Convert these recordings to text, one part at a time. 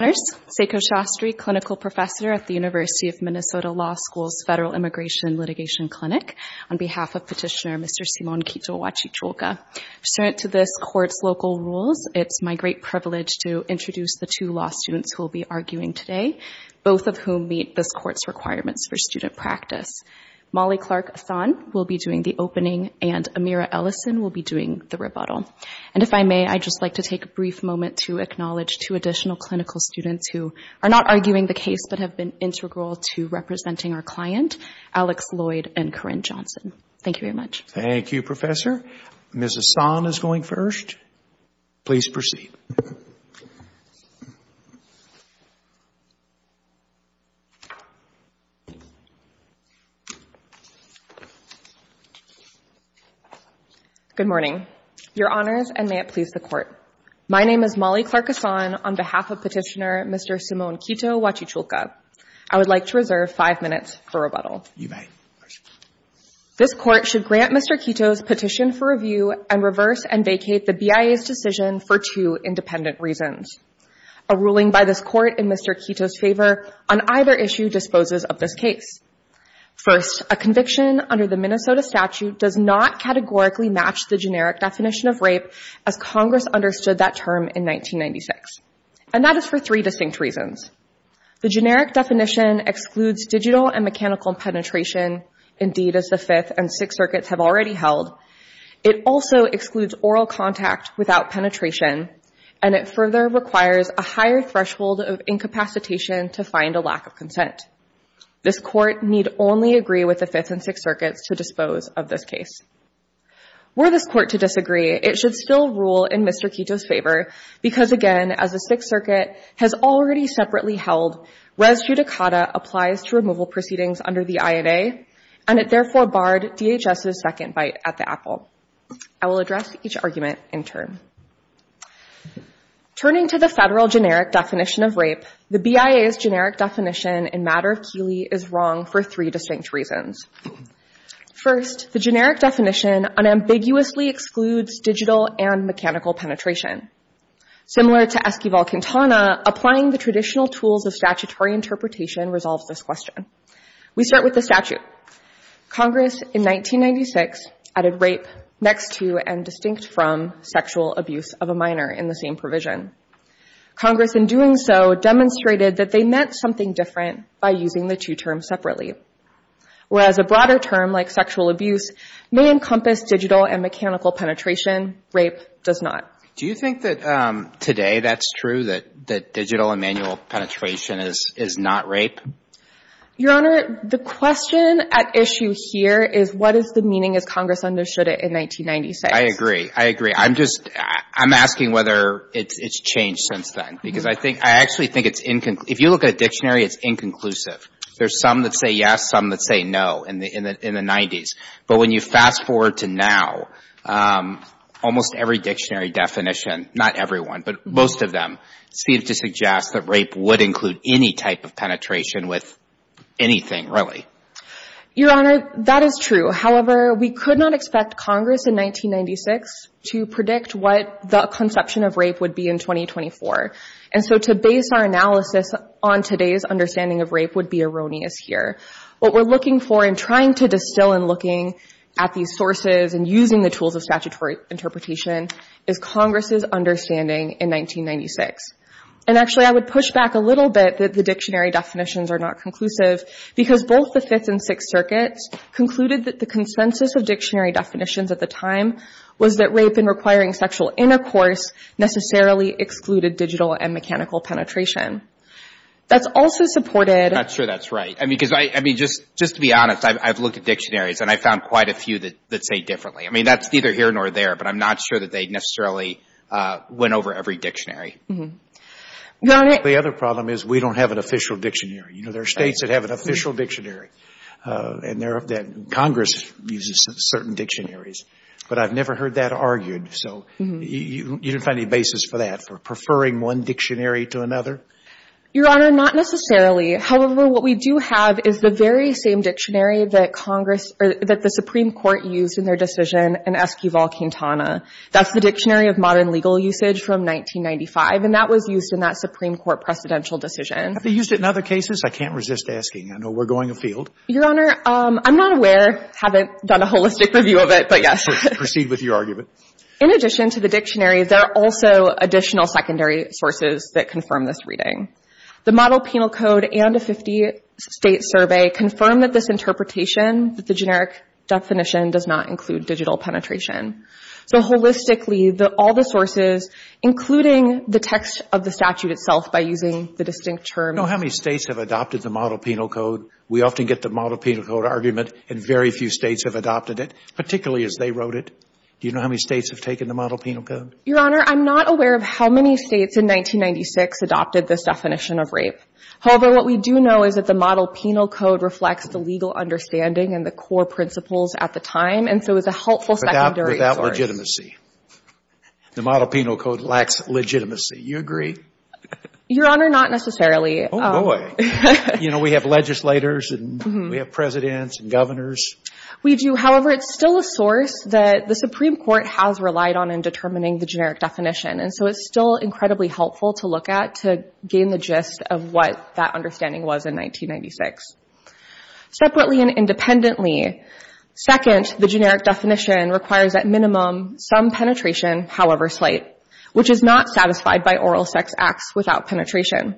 Seiko Shastri, clinical professor at the University of Minnesota Law School's Federal Immigration Litigation Clinic, on behalf of petitioner Mr. Simon Quito-Guachichulca. Pursuant to this court's local rules, it's my great privilege to introduce the two law students who will be arguing today, both of whom meet this court's requirements for student practice. Molly Clark-Athan will be doing the opening, and Amira Ellison will be doing the rebuttal. And if I may, I'd just like to take a brief moment to acknowledge two additional clinical students who are not arguing the case, but have been integral to representing our client, Alex Lloyd and Corinne Johnson. Thank you very much. Thank you, professor. Ms. Ahsan is going first. Please proceed. Good morning. Your honors, and may it please the court. My name is Molly Clark-Athan, on behalf of petitioner Mr. Simon Quito-Guachichulca. I would like to reserve five minutes for rebuttal. You may. This court should grant Mr. Quito's petition for review and reverse and vacate the BIA's decision for two independent reasons. A ruling by this court in Mr. Quito's favor on either issue disposes of this case. First, a conviction under the Minnesota statute does not categorically match the generic definition of rape as Congress understood that term in 1996. And that is for three distinct reasons. The generic definition excludes digital and mechanical penetration, indeed, as the Fifth and Sixth Circuits have already held. It also excludes oral contact without penetration. And it further requires a higher threshold of incapacitation to find a lack of consent. This court need only agree with the Fifth and Sixth Circuits to dispose of this case. Were this court to disagree, it should still rule in Mr. Quito's favor. Because again, as the Sixth Circuit has already separately held, res judicata applies to removal proceedings under the INA. And it therefore barred DHS's second bite at the apple. I will address each argument in turn. Turning to the federal generic definition of rape, the BIA's generic definition in matter of Keeley is wrong for three distinct reasons. First, the generic definition unambiguously excludes digital and mechanical penetration. Similar to Esquivel-Quintana, applying the traditional tools of statutory interpretation resolves this question. We start with the statute. Congress, in 1996, added rape next to and distinct from sexual abuse of a minor in the same provision. Congress, in doing so, demonstrated that they meant something different by using the two terms separately. Whereas a broader term, like sexual abuse, may encompass digital and mechanical penetration, rape does not. Do you think that today that's true, that digital and manual penetration is not rape? Your Honor, the question at issue here is what is the meaning as Congress understood it in 1996? I agree. I agree. I'm just asking whether it's changed since then. Because I actually think it's inconclusive. If you look at a dictionary, it's inconclusive. There's some that say yes, some that say no in the 90s. But when you fast forward to now, almost every dictionary definition, not everyone, but most of them, seem to suggest that rape would include any type of penetration with anything, really. Your Honor, that is true. However, we could not expect Congress in 1996 to predict what the conception of rape would be in 2024. And so to base our analysis on today's understanding of rape would be erroneous here. What we're looking for in trying to distill and looking at these sources and using the tools of statutory interpretation is Congress's understanding in 1996. And actually, I would push back a little bit that the dictionary definitions are not conclusive, because both the Fifth and Sixth Circuits concluded that the consensus of dictionary definitions at the time was that rape, in requiring sexual intercourse, necessarily excluded digital and mechanical penetration. That's also supported. I'm not sure that's right. I mean, just to be honest, I've looked at dictionaries, and I found quite a few that say differently. I mean, that's neither here nor there, but I'm not sure that they necessarily went over every dictionary. The other problem is we don't have an official dictionary. There are states that have an official dictionary, and Congress uses certain dictionaries. But I've never heard that argued. So you didn't find any basis for that, for preferring one dictionary to another? Your Honor, not necessarily. However, what we do have is the very same dictionary that Congress or that the Supreme Court used in their decision in Esquivel-Quintana. That's the Dictionary of Modern Legal Usage from 1995, and that was used in that Supreme Court precedential decision. Have they used it in other cases? I can't resist asking. I know we're going afield. Your Honor, I'm not aware. Haven't done a holistic review of it, but yes. Proceed with your argument. In addition to the dictionary, there are also additional secondary sources that confirm this reading. The Model Penal Code and a 50-state survey confirm that this interpretation, that the generic definition, does not include digital penetration. So holistically, all the sources, including the text of the statute itself by using the distinct term. How many states have adopted the Model Penal Code? We often get the Model Penal Code argument, and very few states have adopted it, particularly as they wrote it. Do you know how many states have taken the Model Penal Code? Your Honor, I'm not aware of how many states in 1996 adopted this definition of rape. However, what we do know is that the Model Penal Code reflects the legal understanding and the core principles at the time, and so is a helpful secondary source. Without legitimacy. The Model Penal Code lacks legitimacy. You agree? Your Honor, not necessarily. Oh, boy. You know, we have legislators, and we have presidents and governors. We do. However, it's still a source that the Supreme Court has relied on in determining the generic definition, and so it's still incredibly helpful to look at to gain the gist of what that understanding was in 1996. Separately and independently, second, the generic definition requires at minimum some penetration, however slight, which is not satisfied by oral sex acts without penetration.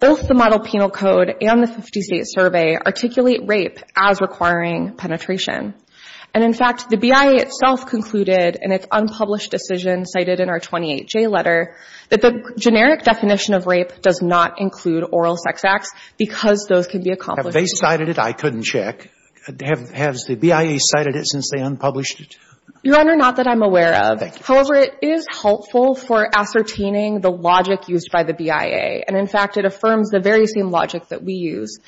Both the Model Penal Code and the 50-State Survey articulate rape as requiring penetration. And in fact, the BIA itself concluded in its unpublished decision cited in our 28J letter that the generic definition of rape does not include oral sex acts because those can be accomplished. Have they cited it? I couldn't check. Has the BIA cited it since they unpublished it? Your Honor, not that I'm aware of. However, it is helpful for ascertaining the logic used by the BIA. And in fact, it affirms the very same logic that we use.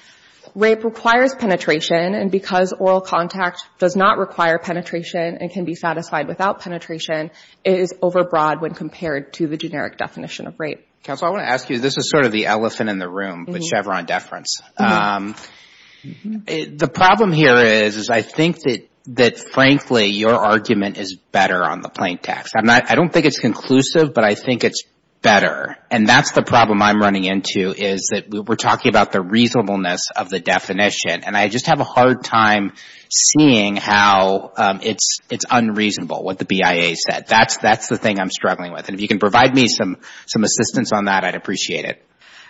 Rape requires penetration, and because oral contact does not require penetration and can be satisfied without penetration, it is overbroad when compared to the generic definition of rape. Counsel, I want to ask you, this is sort of the elephant in the room with Chevron deference. The problem here is I think that, frankly, your argument is better on the plaintext. I don't think it's conclusive, but I think it's better. And that's the problem I'm running into is that we're talking about the reasonableness of the definition. And I just have a hard time seeing how it's unreasonable, what the BIA said. That's the thing I'm struggling with. And if you can provide me some assistance on that, I'd appreciate it.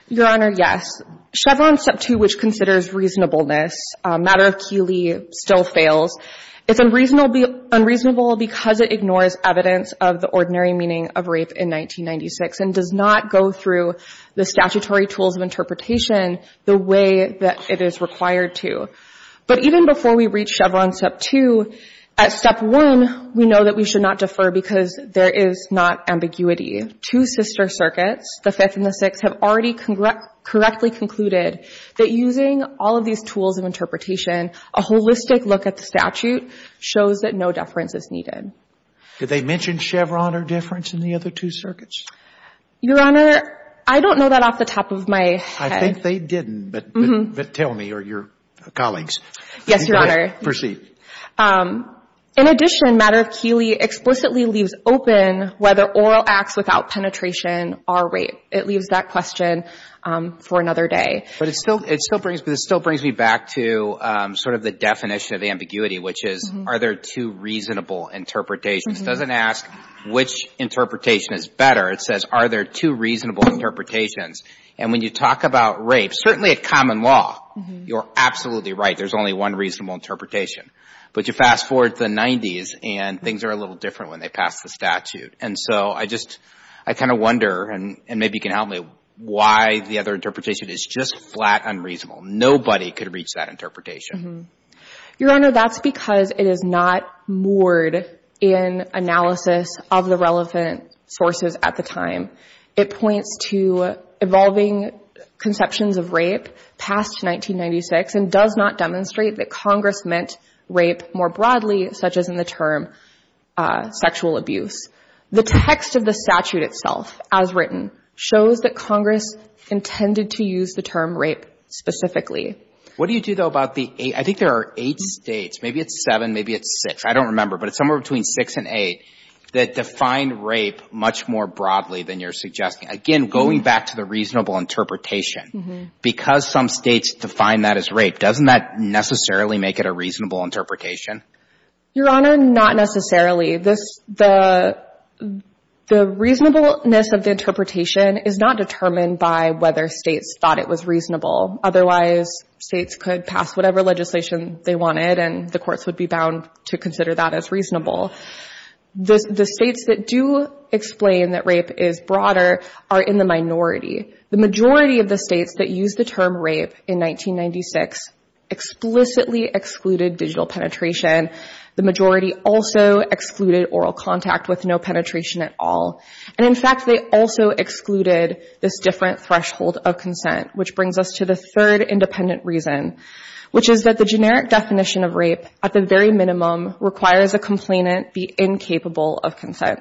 Your Honor, yes. Chevron Step 2, which considers reasonableness, a matter of Keeley, still fails. It's unreasonable because it ignores evidence of the ordinary meaning of rape in 1996 and does not go through the statutory tools of interpretation the way that it is required to. But even before we reach Chevron Step 2, at Step 1, we know that we should not defer because there is not ambiguity. Two sister circuits, the Fifth and the Sixth, have already correctly concluded that using all of these tools of interpretation, a holistic look at the statute shows that no deference is needed. Did they mention Chevron or deference in the other two circuits? Your Honor, I don't know that off the top of my head. I think they didn't, but tell me or your colleagues. Yes, Your Honor. Proceed. In addition, matter of Keeley explicitly leaves open whether oral acts without penetration are rape. It leaves that question for another day. But it still brings me back to the definition of ambiguity, which is, are there two reasonable interpretations? This doesn't ask which interpretation is better. It says, are there two reasonable interpretations? And when you talk about rape, certainly at common law, you're absolutely right. There's only one reasonable interpretation. But you fast forward to the 90s, and things are a little different when they pass the statute. And so I just kind of wonder, and maybe you can help me, why the other interpretation is just flat unreasonable. Nobody could reach that interpretation. Your Honor, that's because it is not moored in analysis of the relevant sources at the time. It points to evolving conceptions of rape past 1996 and does not demonstrate that Congress meant rape more broadly, such as in the term sexual abuse. The text of the statute itself, as written, shows that Congress intended to use the term rape specifically. What do you do, though, about the eight? I think there are eight states. Maybe it's seven. Maybe it's six. I don't remember. But it's somewhere between six and eight that define rape much more broadly than you're suggesting. Again, going back to the reasonable interpretation, because some states define that as rape, doesn't that necessarily make it a reasonable interpretation? Your Honor, not necessarily. The reasonableness of the interpretation is not determined by whether states thought it was reasonable. Otherwise, states could pass whatever legislation they wanted, and the courts would be bound to consider that as reasonable. The states that do explain that rape is broader are in the minority. The majority of the states that use the term rape in 1996 explicitly excluded digital penetration. The majority also excluded oral contact with no penetration at all. And in fact, they also excluded this different threshold of consent, which brings us to the third independent reason, which is that the generic definition of rape, at the very minimum, requires a complainant be incapable of consent.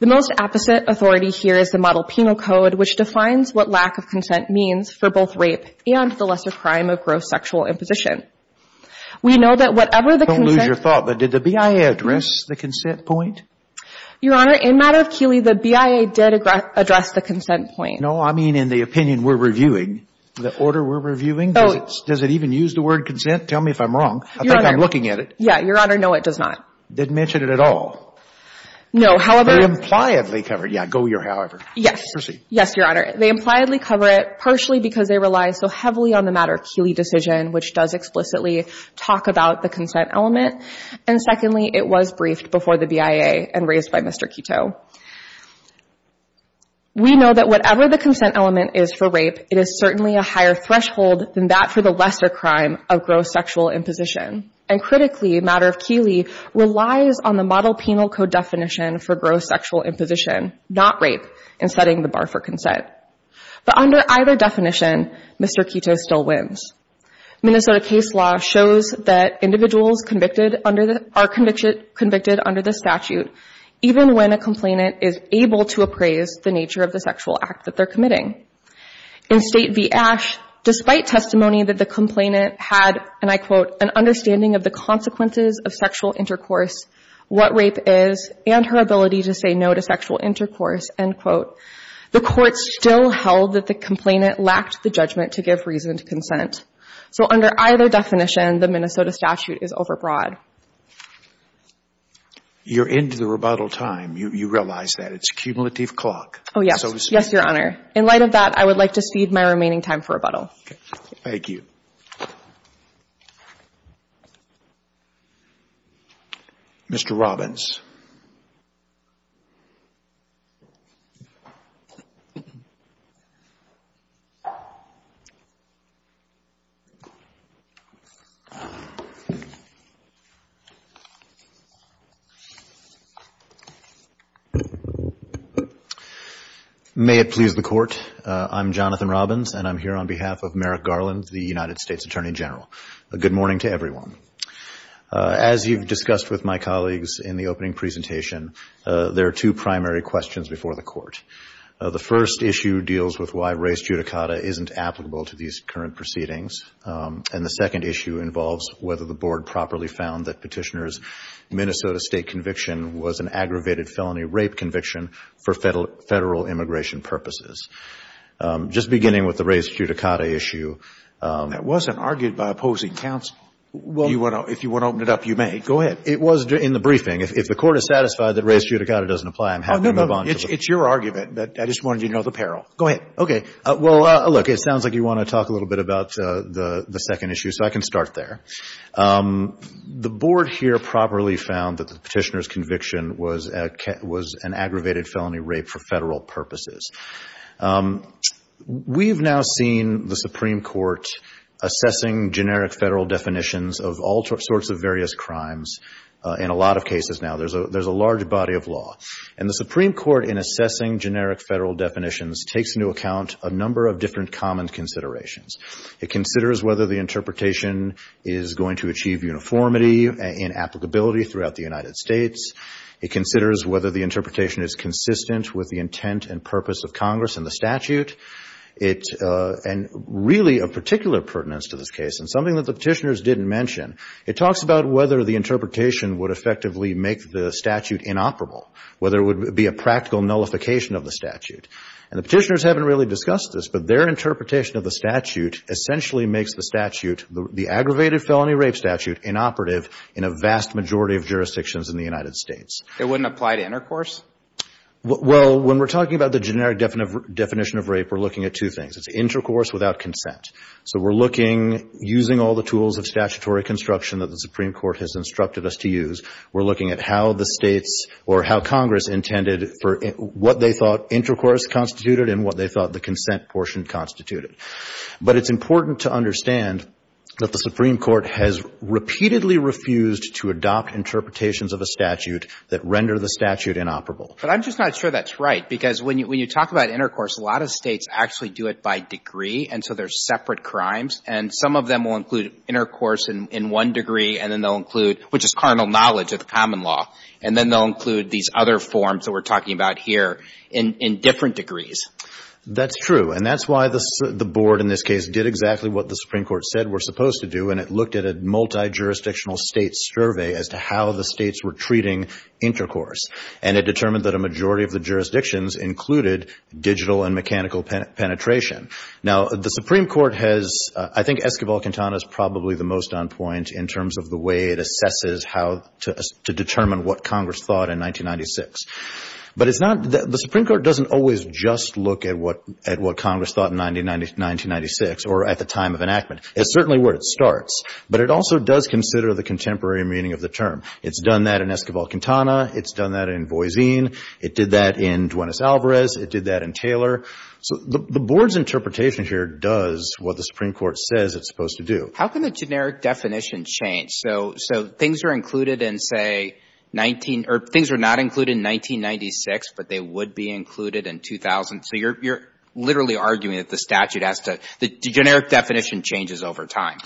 The most opposite authority here is the Model Penal Code, which defines what lack of consent means for both rape and the lesser crime of gross sexual imposition. We know that whatever the consent point. Don't lose your thought, but did the BIA address the consent point? Your Honor, in matter of Keeley, the BIA did address the consent point. No, I mean in the opinion we're reviewing, the order we're reviewing. Does it even use the word consent? Tell me if I'm wrong. I think I'm looking at it. Yeah, Your Honor, no, it does not. Didn't mention it at all. No, however. They impliedly cover it. Yeah, go your however. Yes. Yes, Your Honor. They impliedly cover it, partially because they rely so heavily on the matter of Keeley decision, which does explicitly talk about the consent element. And secondly, it was briefed before the BIA and raised by Mr. Kitto. We know that whatever the consent element is for rape, it is certainly a higher threshold than that for the lesser crime of gross sexual imposition. And critically, matter of Keeley, relies on the model penal code definition for gross sexual imposition, not rape, and setting the bar for consent. But under either definition, Mr. Kitto still wins. Minnesota case law shows that individuals are convicted under the statute, even when a complainant is able to appraise the nature of the sexual act that they're committing. In State v. Ash, despite testimony that the complainant had, and I quote, an understanding of the consequences of sexual intercourse, what rape is, and her ability to say no to sexual intercourse, end quote, the court still held that the complainant lacked the judgment to give reasoned consent. So under either definition, the Minnesota statute is overbroad. You're into the rebuttal time. You realize that. It's a cumulative clock. Oh, yes. Yes, Your Honor. In light of that, I would like to cede my remaining time for rebuttal. Thank you. Mr. Robbins. May it please the Court. I'm Jonathan Robbins, and I'm here on behalf of Merrick Garland, the United States Attorney General. A good morning to everyone. As you've discussed with my colleagues in the opening presentation, there are two primary questions before the Court. The first issue deals with why race judicata isn't applicable to these current proceedings. And the second issue involves whether the board properly found that petitioner's Minnesota state conviction was an aggravated felony. Rape conviction for federal immigration purposes. Just beginning with the race judicata issue. That wasn't argued by opposing counsel. If you want to open it up, you may. Go ahead. It was in the briefing. If the Court is satisfied that race judicata doesn't apply, I'm happy to move on. It's your argument, but I just wanted you to know the peril. Go ahead. OK. Well, look, it sounds like you want to talk a little bit about the second issue, so I can start there. The board here properly found that the petitioner's was an aggravated felony rape for federal purposes. We've now seen the Supreme Court assessing generic federal definitions of all sorts of various crimes in a lot of cases now. There's a large body of law. And the Supreme Court, in assessing generic federal definitions, takes into account a number of different common considerations. It considers whether the interpretation is going to achieve uniformity and applicability throughout the United States. It considers whether the interpretation is consistent with the intent and purpose of Congress and the statute. And really, a particular pertinence to this case, and something that the petitioners didn't mention, it talks about whether the interpretation would effectively make the statute inoperable, whether it would be a practical nullification of the statute. And the petitioners haven't really discussed this, but their interpretation of the statute statute, inoperative in a vast majority of jurisdictions in the United States. It wouldn't apply to intercourse? Well, when we're talking about the generic definition of rape, we're looking at two things. It's intercourse without consent. So we're looking, using all the tools of statutory construction that the Supreme Court has instructed us to use, we're looking at how the states, or how Congress, intended for what they thought intercourse constituted and what they thought the consent portion constituted. But it's important to understand that the Supreme Court has statute that render the statute inoperable. But I'm just not sure that's right, because when you talk about intercourse, a lot of states actually do it by degree. And so there's separate crimes. And some of them will include intercourse in one degree, and then they'll include, which is carnal knowledge of the common law. And then they'll include these other forms that we're talking about here in different degrees. That's true. And that's why the board, in this case, did exactly what the Supreme Court said we're supposed to do. And it looked at a multi-jurisdictional state survey as to how the states were treating intercourse. And it determined that a majority of the jurisdictions included digital and mechanical penetration. Now, the Supreme Court has, I think, Esquivel-Quintana is probably the most on point in terms of the way it assesses how to determine what Congress thought in 1996. But it's not, the Supreme Court doesn't always just look at what Congress thought in 1996 or at the time of enactment. It's certainly where it starts. But it also does consider the contemporary meaning of the term. It's done that in Esquivel-Quintana. It's done that in Boisin. It did that in Duenas-Alvarez. It did that in Taylor. So the board's interpretation here does what the Supreme Court says it's supposed to do. How can the generic definition change? So things are included in, say, 19, or things are not included in 1996, but they would be included in 2000. So you're literally arguing that the statute has to, the generic definition changes over time.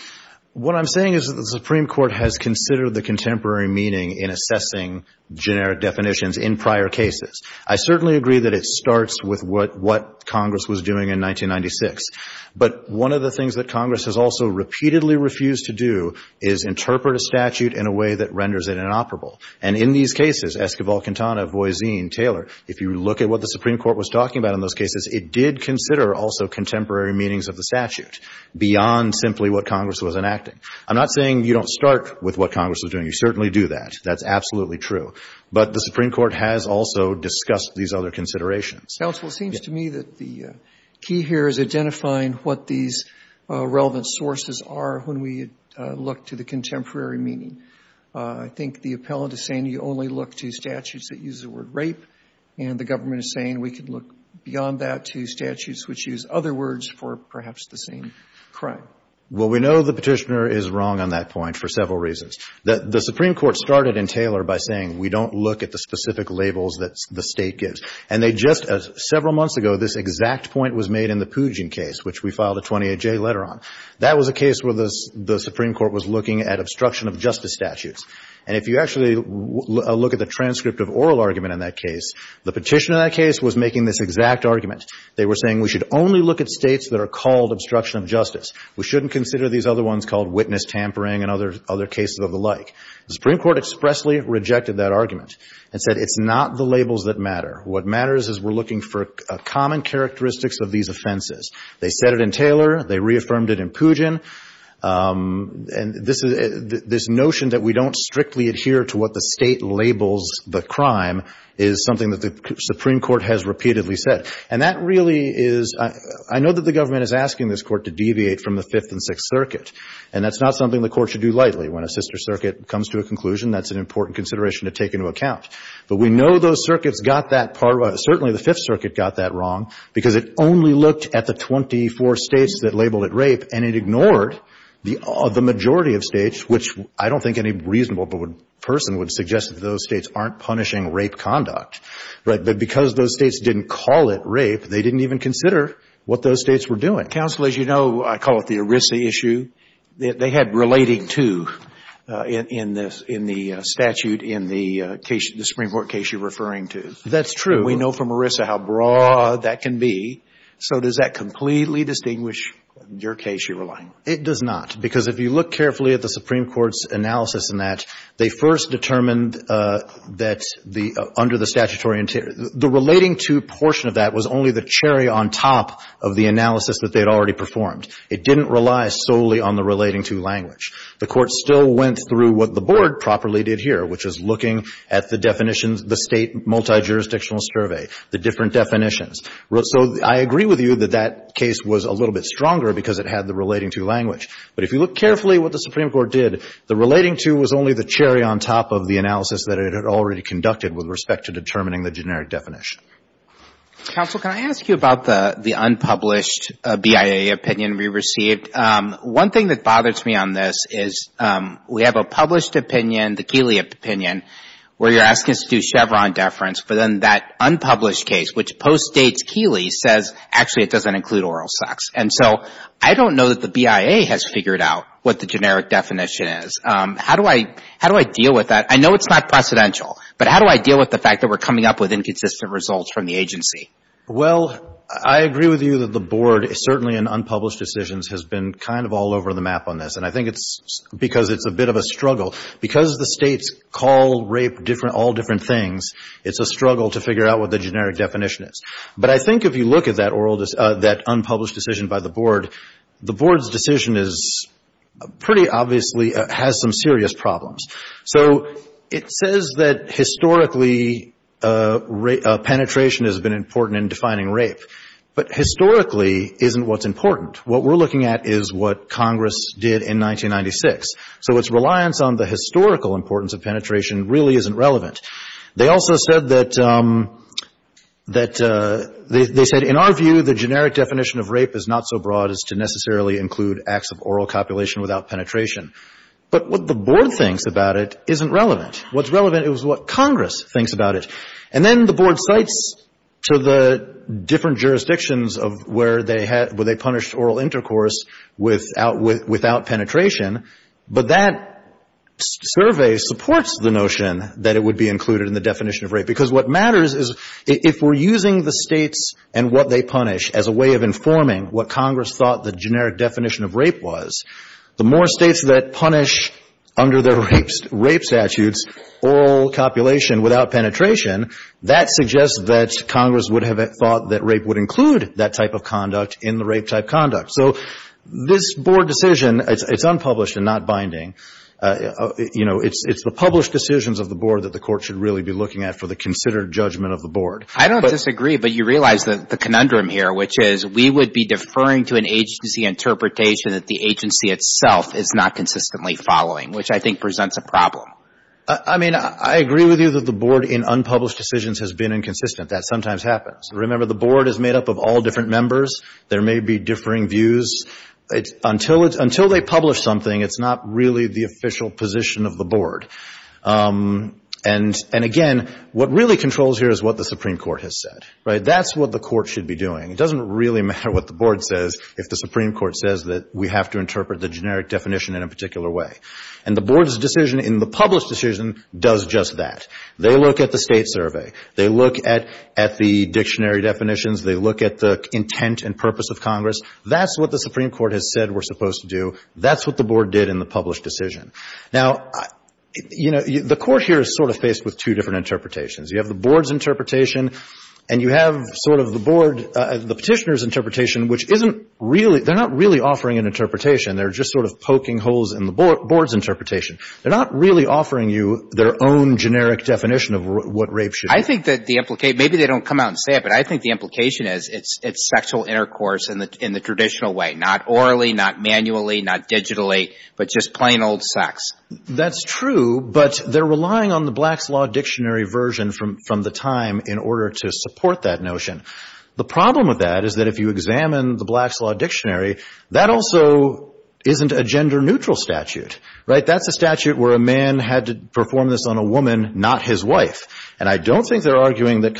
What I'm saying is that the Supreme Court has considered the contemporary meaning in assessing generic definitions in prior cases. I certainly agree that it starts with what Congress was doing in 1996. But one of the things that Congress has also repeatedly refused to do is interpret a statute in a way that renders it inoperable. And in these cases, Esquivel-Quintana, Boisin, Taylor, if you look at what the Supreme Court was talking about in those cases, it did consider also contemporary meanings of the statute beyond simply what Congress was enacting. I'm not saying you don't start with what Congress was doing. You certainly do that. That's absolutely true. But the Supreme Court has also discussed these other considerations. Counsel, it seems to me that the key here is identifying what these relevant sources are when we look to the contemporary meaning. I think the appellant is saying you only look to statutes that use the word rape, and the government is saying we can look beyond that to statutes which use other words for perhaps the same crime. Well, we know the Petitioner is wrong on that point for several reasons. The Supreme Court started in Taylor by saying we don't look at the specific labels that the State gives. And they just, several months ago, this exact point was made in the Pugin case, which we filed a 28-J letter on. That was a case where the Supreme Court was looking at obstruction of justice statutes. And if you actually look at the transcript of oral argument in that case, the Petitioner in that case was making this exact argument. They were saying we should only look at states that are called obstruction of justice. We shouldn't consider these other ones called witness tampering and other cases of the like. The Supreme Court expressly rejected that argument and said it's not the labels that matter. What matters is we're looking for common characteristics of these offenses. They said it in Taylor. They reaffirmed it in Pugin. And this notion that we don't strictly adhere to what the State labels the crime is something that the Supreme Court has repeatedly said. And that really is, I know that the government is asking this Court to deviate from the Fifth and Sixth Circuit. And that's not something the Court should do lightly. When a sister circuit comes to a conclusion, that's an important consideration to take into account. But we know those circuits got that part right. Certainly, the Fifth Circuit got that wrong because it only looked at the 24 states that labeled it rape. And it ignored the majority of states, which I don't think any reasonable person would suggest that those states aren't punishing rape conduct. Right. But because those states didn't call it rape, they didn't even consider what those states were doing. Counsel, as you know, I call it the ERISA issue. They had relating to in the statute in the Supreme Court case you're referring to. That's true. We know from ERISA how broad that can be. So does that completely distinguish your case you're relying on? It does not. Because if you look carefully at the Supreme Court's analysis in that, they first determined that under the statutory interior, the relating to portion of that was only the cherry on top of the analysis that they'd already performed. It didn't rely solely on the relating to language. The Court still went through what the Board properly did here, which is looking at the definitions, the state multijurisdictional survey, the different definitions. So I agree with you that that case was a little bit stronger because it had the relating to language. But if you look carefully at what the Supreme Court did, the relating to was only the cherry on top of the analysis that it had already conducted with respect to determining the generic definition. Counsel, can I ask you about the unpublished BIA opinion we received? One thing that bothers me on this is we have a published opinion, the Keeley opinion, where you're asking us to do Chevron deference. But then that unpublished case, which postdates Keeley, says actually it doesn't include oral sex. And so I don't know that the BIA has figured out what the generic definition is. How do I deal with that? I know it's not precedential. But how do I deal with the fact that we're coming up with inconsistent results from the agency? Well, I agree with you that the Board, certainly in unpublished decisions, has been kind of all over the map on this. And I think it's because it's a bit of a struggle. Because the states call rape all different things, it's a struggle to figure out what the generic definition is. But I think if you look at that unpublished decision by the Board, the Board's decision is pretty obviously has some serious problems. So it says that historically penetration has been important in defining rape. But historically isn't what's important. What we're looking at is what Congress did in 1996. So its reliance on the historical importance of penetration really isn't relevant. They also said that, they said, in our view, the generic definition of rape is not so broad as to necessarily include acts of oral copulation without penetration. But what the Board thinks about it isn't relevant. What's relevant is what Congress thinks about it. And then the Board cites to the different jurisdictions of where they had, where they punished oral intercourse without penetration. But that survey supports the notion that it would be included in the definition of rape. Because what matters is if we're using the states and what they punish as a way of informing what Congress thought the generic definition of rape was, the more states that punish under their rape statutes oral copulation without penetration, that suggests that Congress would have thought that rape would include that type of conduct in the rape-type conduct. So this Board decision, it's unpublished and not binding. You know, it's the published decisions of the Board that the Court should really be looking at for the considered judgment of the Board. I don't disagree, but you realize the conundrum here, which is we would be deferring to an agency interpretation that the agency itself is not consistently following, which I think presents a problem. I mean, I agree with you that the Board in unpublished decisions has been inconsistent. That sometimes happens. Remember, the Board is made up of all different members. There may be differing views. Until they publish something, it's not really the official position of the Board. And again, what really controls here is what the Supreme Court has said, right? That's what the Court should be doing. It doesn't really matter what the Board says if the Supreme Court says that we have to interpret the generic definition in a particular way. And the Board's decision in the published decision does just that. They look at the state survey. They look at the dictionary definitions. They look at the intent and purpose of Congress. That's what the Supreme Court has said we're supposed to do. That's what the Board did in the published decision. Now, you know, the Court here is sort of faced with two different interpretations. You have the Board's interpretation and you have sort of the Board, the petitioner's interpretation, which isn't really, they're not really offering an interpretation. They're just sort of poking holes in the Board's interpretation. They're not really offering you their own generic definition of what rape should be. I think that the implication, maybe they don't come out and say it, but I think the implication is it's sexual intercourse in the traditional way. Not orally, not manually, not digitally, but just plain old sex. That's true, but they're relying on the Black's Law Dictionary version from the time in order to support that notion. The problem with that is that if you examine the Black's Law Dictionary, that also isn't a gender neutral statute, right? That's a statute where a man had to perform this on a woman, not his wife. And I don't think they're arguing that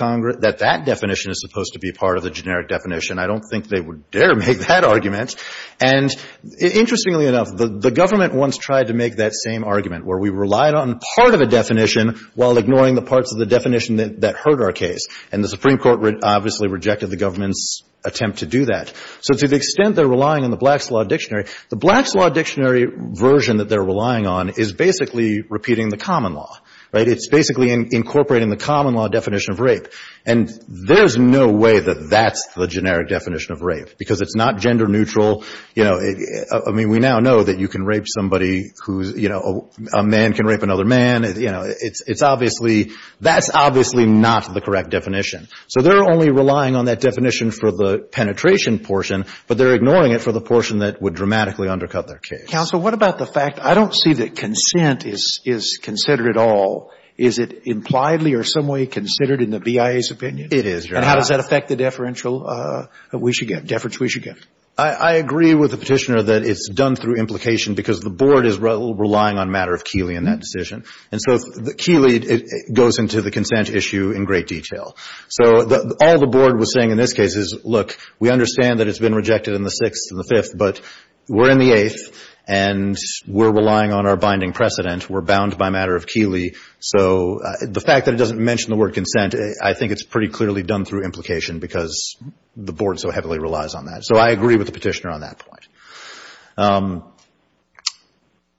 that definition is supposed to be part of the generic definition. I don't think they would dare make that argument. And interestingly enough, the government once tried to make that same argument where we relied on part of a definition while ignoring the parts of the definition that hurt our case. And the Supreme Court obviously rejected the government's attempt to do that. So to the extent they're relying on the Black's Law Dictionary, the Black's Law Dictionary version that they're relying on is basically repeating the common law, right? It's basically incorporating the common law definition of rape. And there's no way that that's the generic definition of rape because it's not gender neutral. I mean, we now know that you can rape somebody who's, you know, a man can rape another man. You know, it's obviously, that's obviously not the correct definition. So they're only relying on that definition for the penetration portion, but they're ignoring it for the portion that would dramatically undercut their case. Counsel, what about the fact, I don't see that consent is considered at all. Is it impliedly or some way considered in the BIA's opinion? It is, Your Honor. And how does that affect the deferential that we should get, deference we should get? I agree with the Petitioner that it's done through implication because the Board is relying on matter of Keeley in that decision. And so Keeley, it goes into the consent issue in great detail. So all the Board was saying in this case is, look, we understand that it's been rejected in the sixth and the fifth, but we're in the eighth and we're relying on our binding precedent. We're bound by matter of Keeley. So the fact that it doesn't mention the word consent, I think it's pretty clearly done through implication because the Board so heavily relies on that. So I agree with the Petitioner on that point.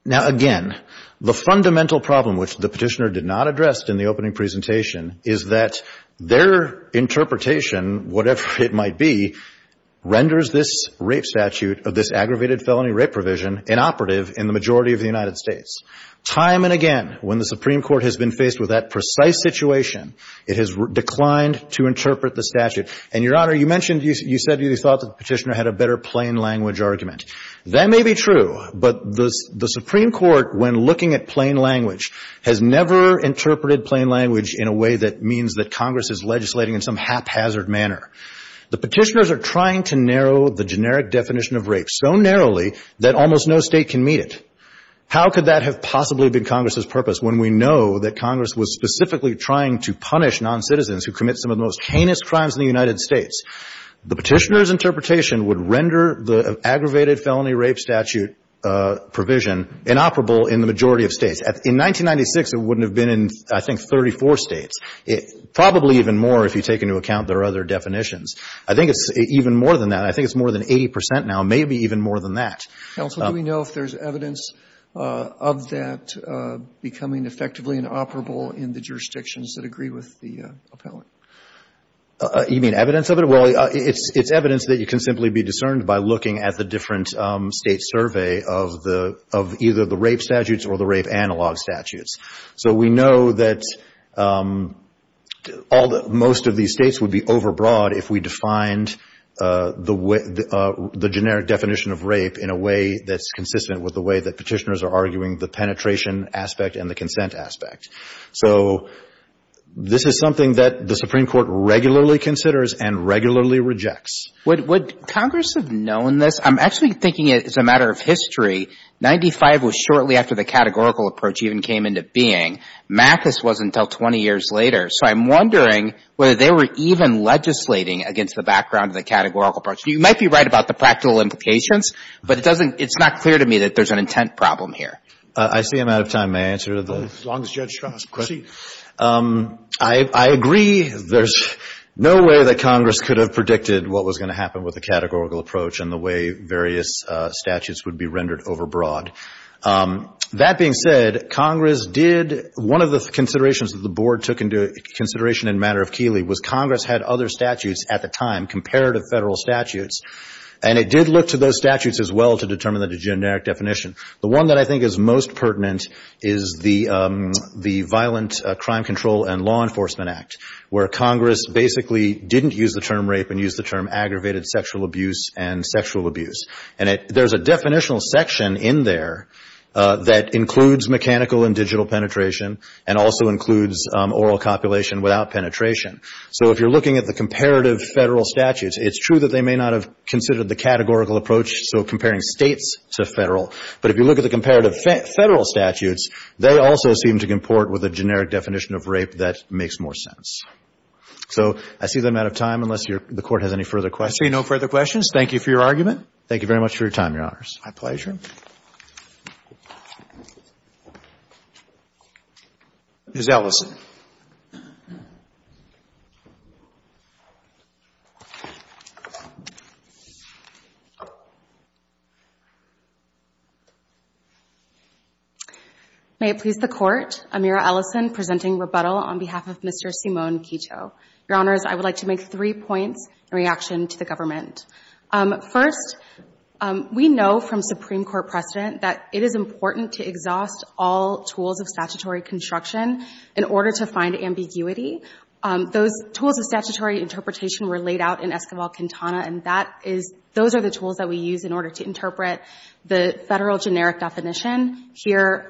Now, again, the fundamental problem which the Petitioner did not address in the opening presentation is that their interpretation, whatever it might be, renders this rape statute of this aggravated felony rape provision inoperative in the majority of the United States. Time and again, when the Supreme Court has been faced with that precise situation, it has declined to interpret the statute. And Your Honor, you mentioned, you said you thought that the Petitioner had a better plain language argument. That may be true, but the Supreme Court, when looking at plain language, has never interpreted plain language in a way that means that Congress is legislating in some haphazard manner. The Petitioners are trying to narrow the generic definition of rape so narrowly that almost no state can meet it. How could that have possibly been Congress's purpose when we know that Congress was specifically trying to punish non-citizens who commit some of the most heinous crimes in the United States? The Petitioner's interpretation would render the aggravated felony rape statute provision inoperable in the majority of states. In 1996, it wouldn't have been in, I think, 34 states. Probably even more if you take into account their other definitions. I think it's even more than that. I think it's more than 80% now, maybe even more than that. Counsel, do we know if there's evidence of that becoming effectively inoperable in the jurisdictions that agree with the appellant? You mean evidence of it? Well, it's evidence that you can simply be discerned by looking at the different state survey of either the rape statutes or the rape analog statutes. So we know that most of these states would be overbroad if we defined the generic definition of rape in a way that's consistent with the way that Petitioners are arguing the penetration aspect and the consent aspect. So this is something that the Supreme Court regularly considers and regularly rejects. Would Congress have known this? I'm actually thinking it's a matter of history. 95 was shortly after the categorical approach even came into being. MACUS was until 20 years later. So I'm wondering whether they were even legislating against the background of the categorical approach. You might be right about the practical implications, but it doesn't, it's not clear to me that there's an intent problem here. I see I'm out of time. May I answer to the? As long as Judge Strauss can proceed. I agree. There's no way that Congress could have predicted what was gonna happen with the categorical approach and the way various statutes would be rendered overbroad. That being said, Congress did, one of the considerations that the board took into consideration in matter of Keeley was Congress had other statutes at the time compared to federal statutes. And it did look to those statutes as well to determine the generic definition. The one that I think is most pertinent is the Violent Crime Control and Law Enforcement Act where Congress basically didn't use the term rape and used the term aggravated sexual abuse and sexual abuse. And there's a definitional section in there that includes mechanical and digital penetration and also includes oral copulation without penetration. So if you're looking at the comparative federal statutes, it's true that they may not have considered the categorical approach, so comparing states to federal. But if you look at the comparative federal statutes, they also seem to comport with a generic definition of rape that makes more sense. So I see that I'm out of time unless the Court has any further questions. I see no further questions. Thank you for your argument. Thank you very much for your time, Your Honors. My pleasure. Ms. Ellison. May it please the Court, Amira Ellison presenting rebuttal on behalf of Mr. Simone Kito. Your Honors, I would like to make three points in reaction to the government. First, we know from Supreme Court precedent that it is important to exhaust all tools of statutory construction in order to find ambiguity. Those tools of statutory interpretation were laid out in Esquivel-Quintana, and those are the tools that we use in order to interpret the federal statute as a federal generic definition. Here,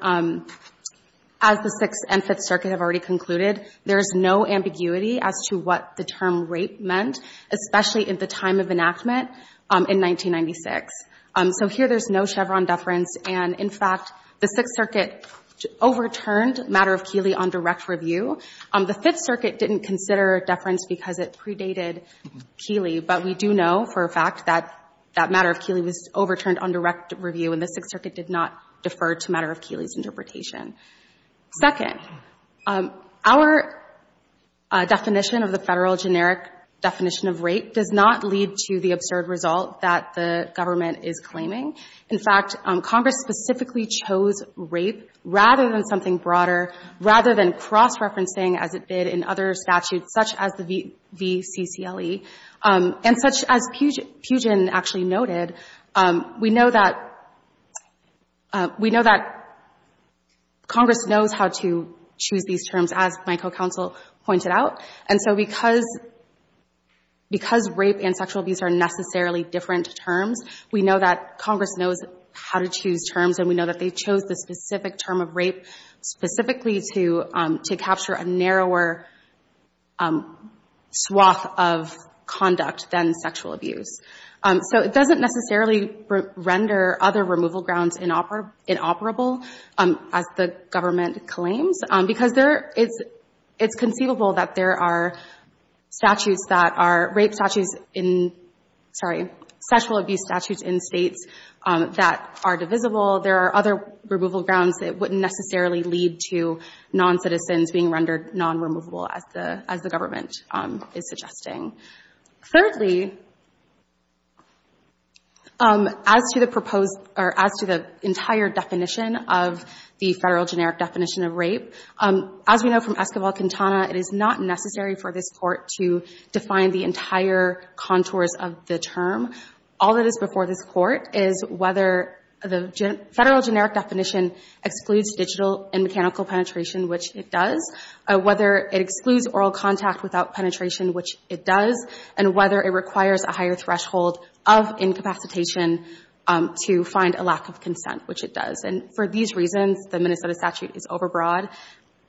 as the Sixth and Fifth Circuit have already concluded, there's no ambiguity as to what the term rape meant, especially at the time of enactment in 1996. So here there's no Chevron deference, and in fact, the Sixth Circuit overturned matter of Keeley on direct review. The Fifth Circuit didn't consider deference because it predated Keeley, but we do know for a fact that that matter of Keeley was overturned on direct review, and the Sixth Circuit did not defer to matter of Keeley's interpretation. Second, our definition of the federal generic definition of rape does not lead to the absurd result that the government is claiming. In fact, Congress specifically chose rape rather than something broader, rather than cross-referencing, as it did in other statutes, such as the VCCLE, and such as Pugin actually noted. We know that Congress knows how to choose these terms, as my co-counsel pointed out. And so because rape and sexual abuse are necessarily different terms, we know that Congress knows how to choose terms, and we know that they chose the specific term of rape specifically to capture a narrower swath of conduct than sexual abuse. So it doesn't necessarily render other removal grounds inoperable, as the government claims, because it's conceivable that there are sexual abuse statutes in states that are divisible. There are other removal grounds that wouldn't necessarily lead to non-citizens being rendered non-removable, as the government is suggesting. Thirdly, as to the entire definition of the federal generic definition of rape, as we know from Escobar-Quintana, it is not necessary for this court to define the entire contours of the term. All that is before this court is whether the federal generic definition excludes digital and mechanical penetration, which it does, whether it excludes oral contact without penetration, which it does, and whether it requires a higher threshold of incapacitation to find a lack of consent, which it does. And for these reasons, the Minnesota statute is overbroad,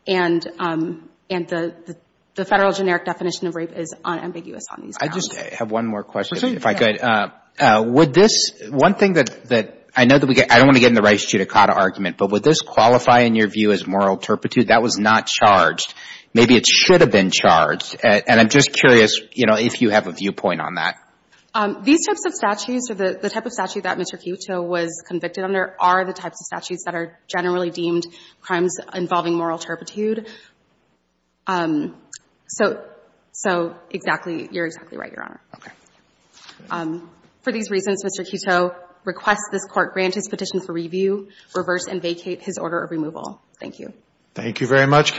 and the federal generic definition of rape is unambiguous on these grounds. I just have one more question, if I could. Would this, one thing that I know that we get, I don't want to get in the Rice-Chutakata argument, but would this qualify in your view as moral turpitude? That was not charged. Maybe it should have been charged. And I'm just curious if you have a viewpoint on that. These types of statutes, or the type of statute that Mr. Quito was convicted under, are the types of statutes that are generally deemed crimes involving moral turpitude. So exactly, you're exactly right, Your Honor. For these reasons, Mr. Quito requests this court grant his petition for review, reverse and vacate his order of removal. Thank you. Thank you very much.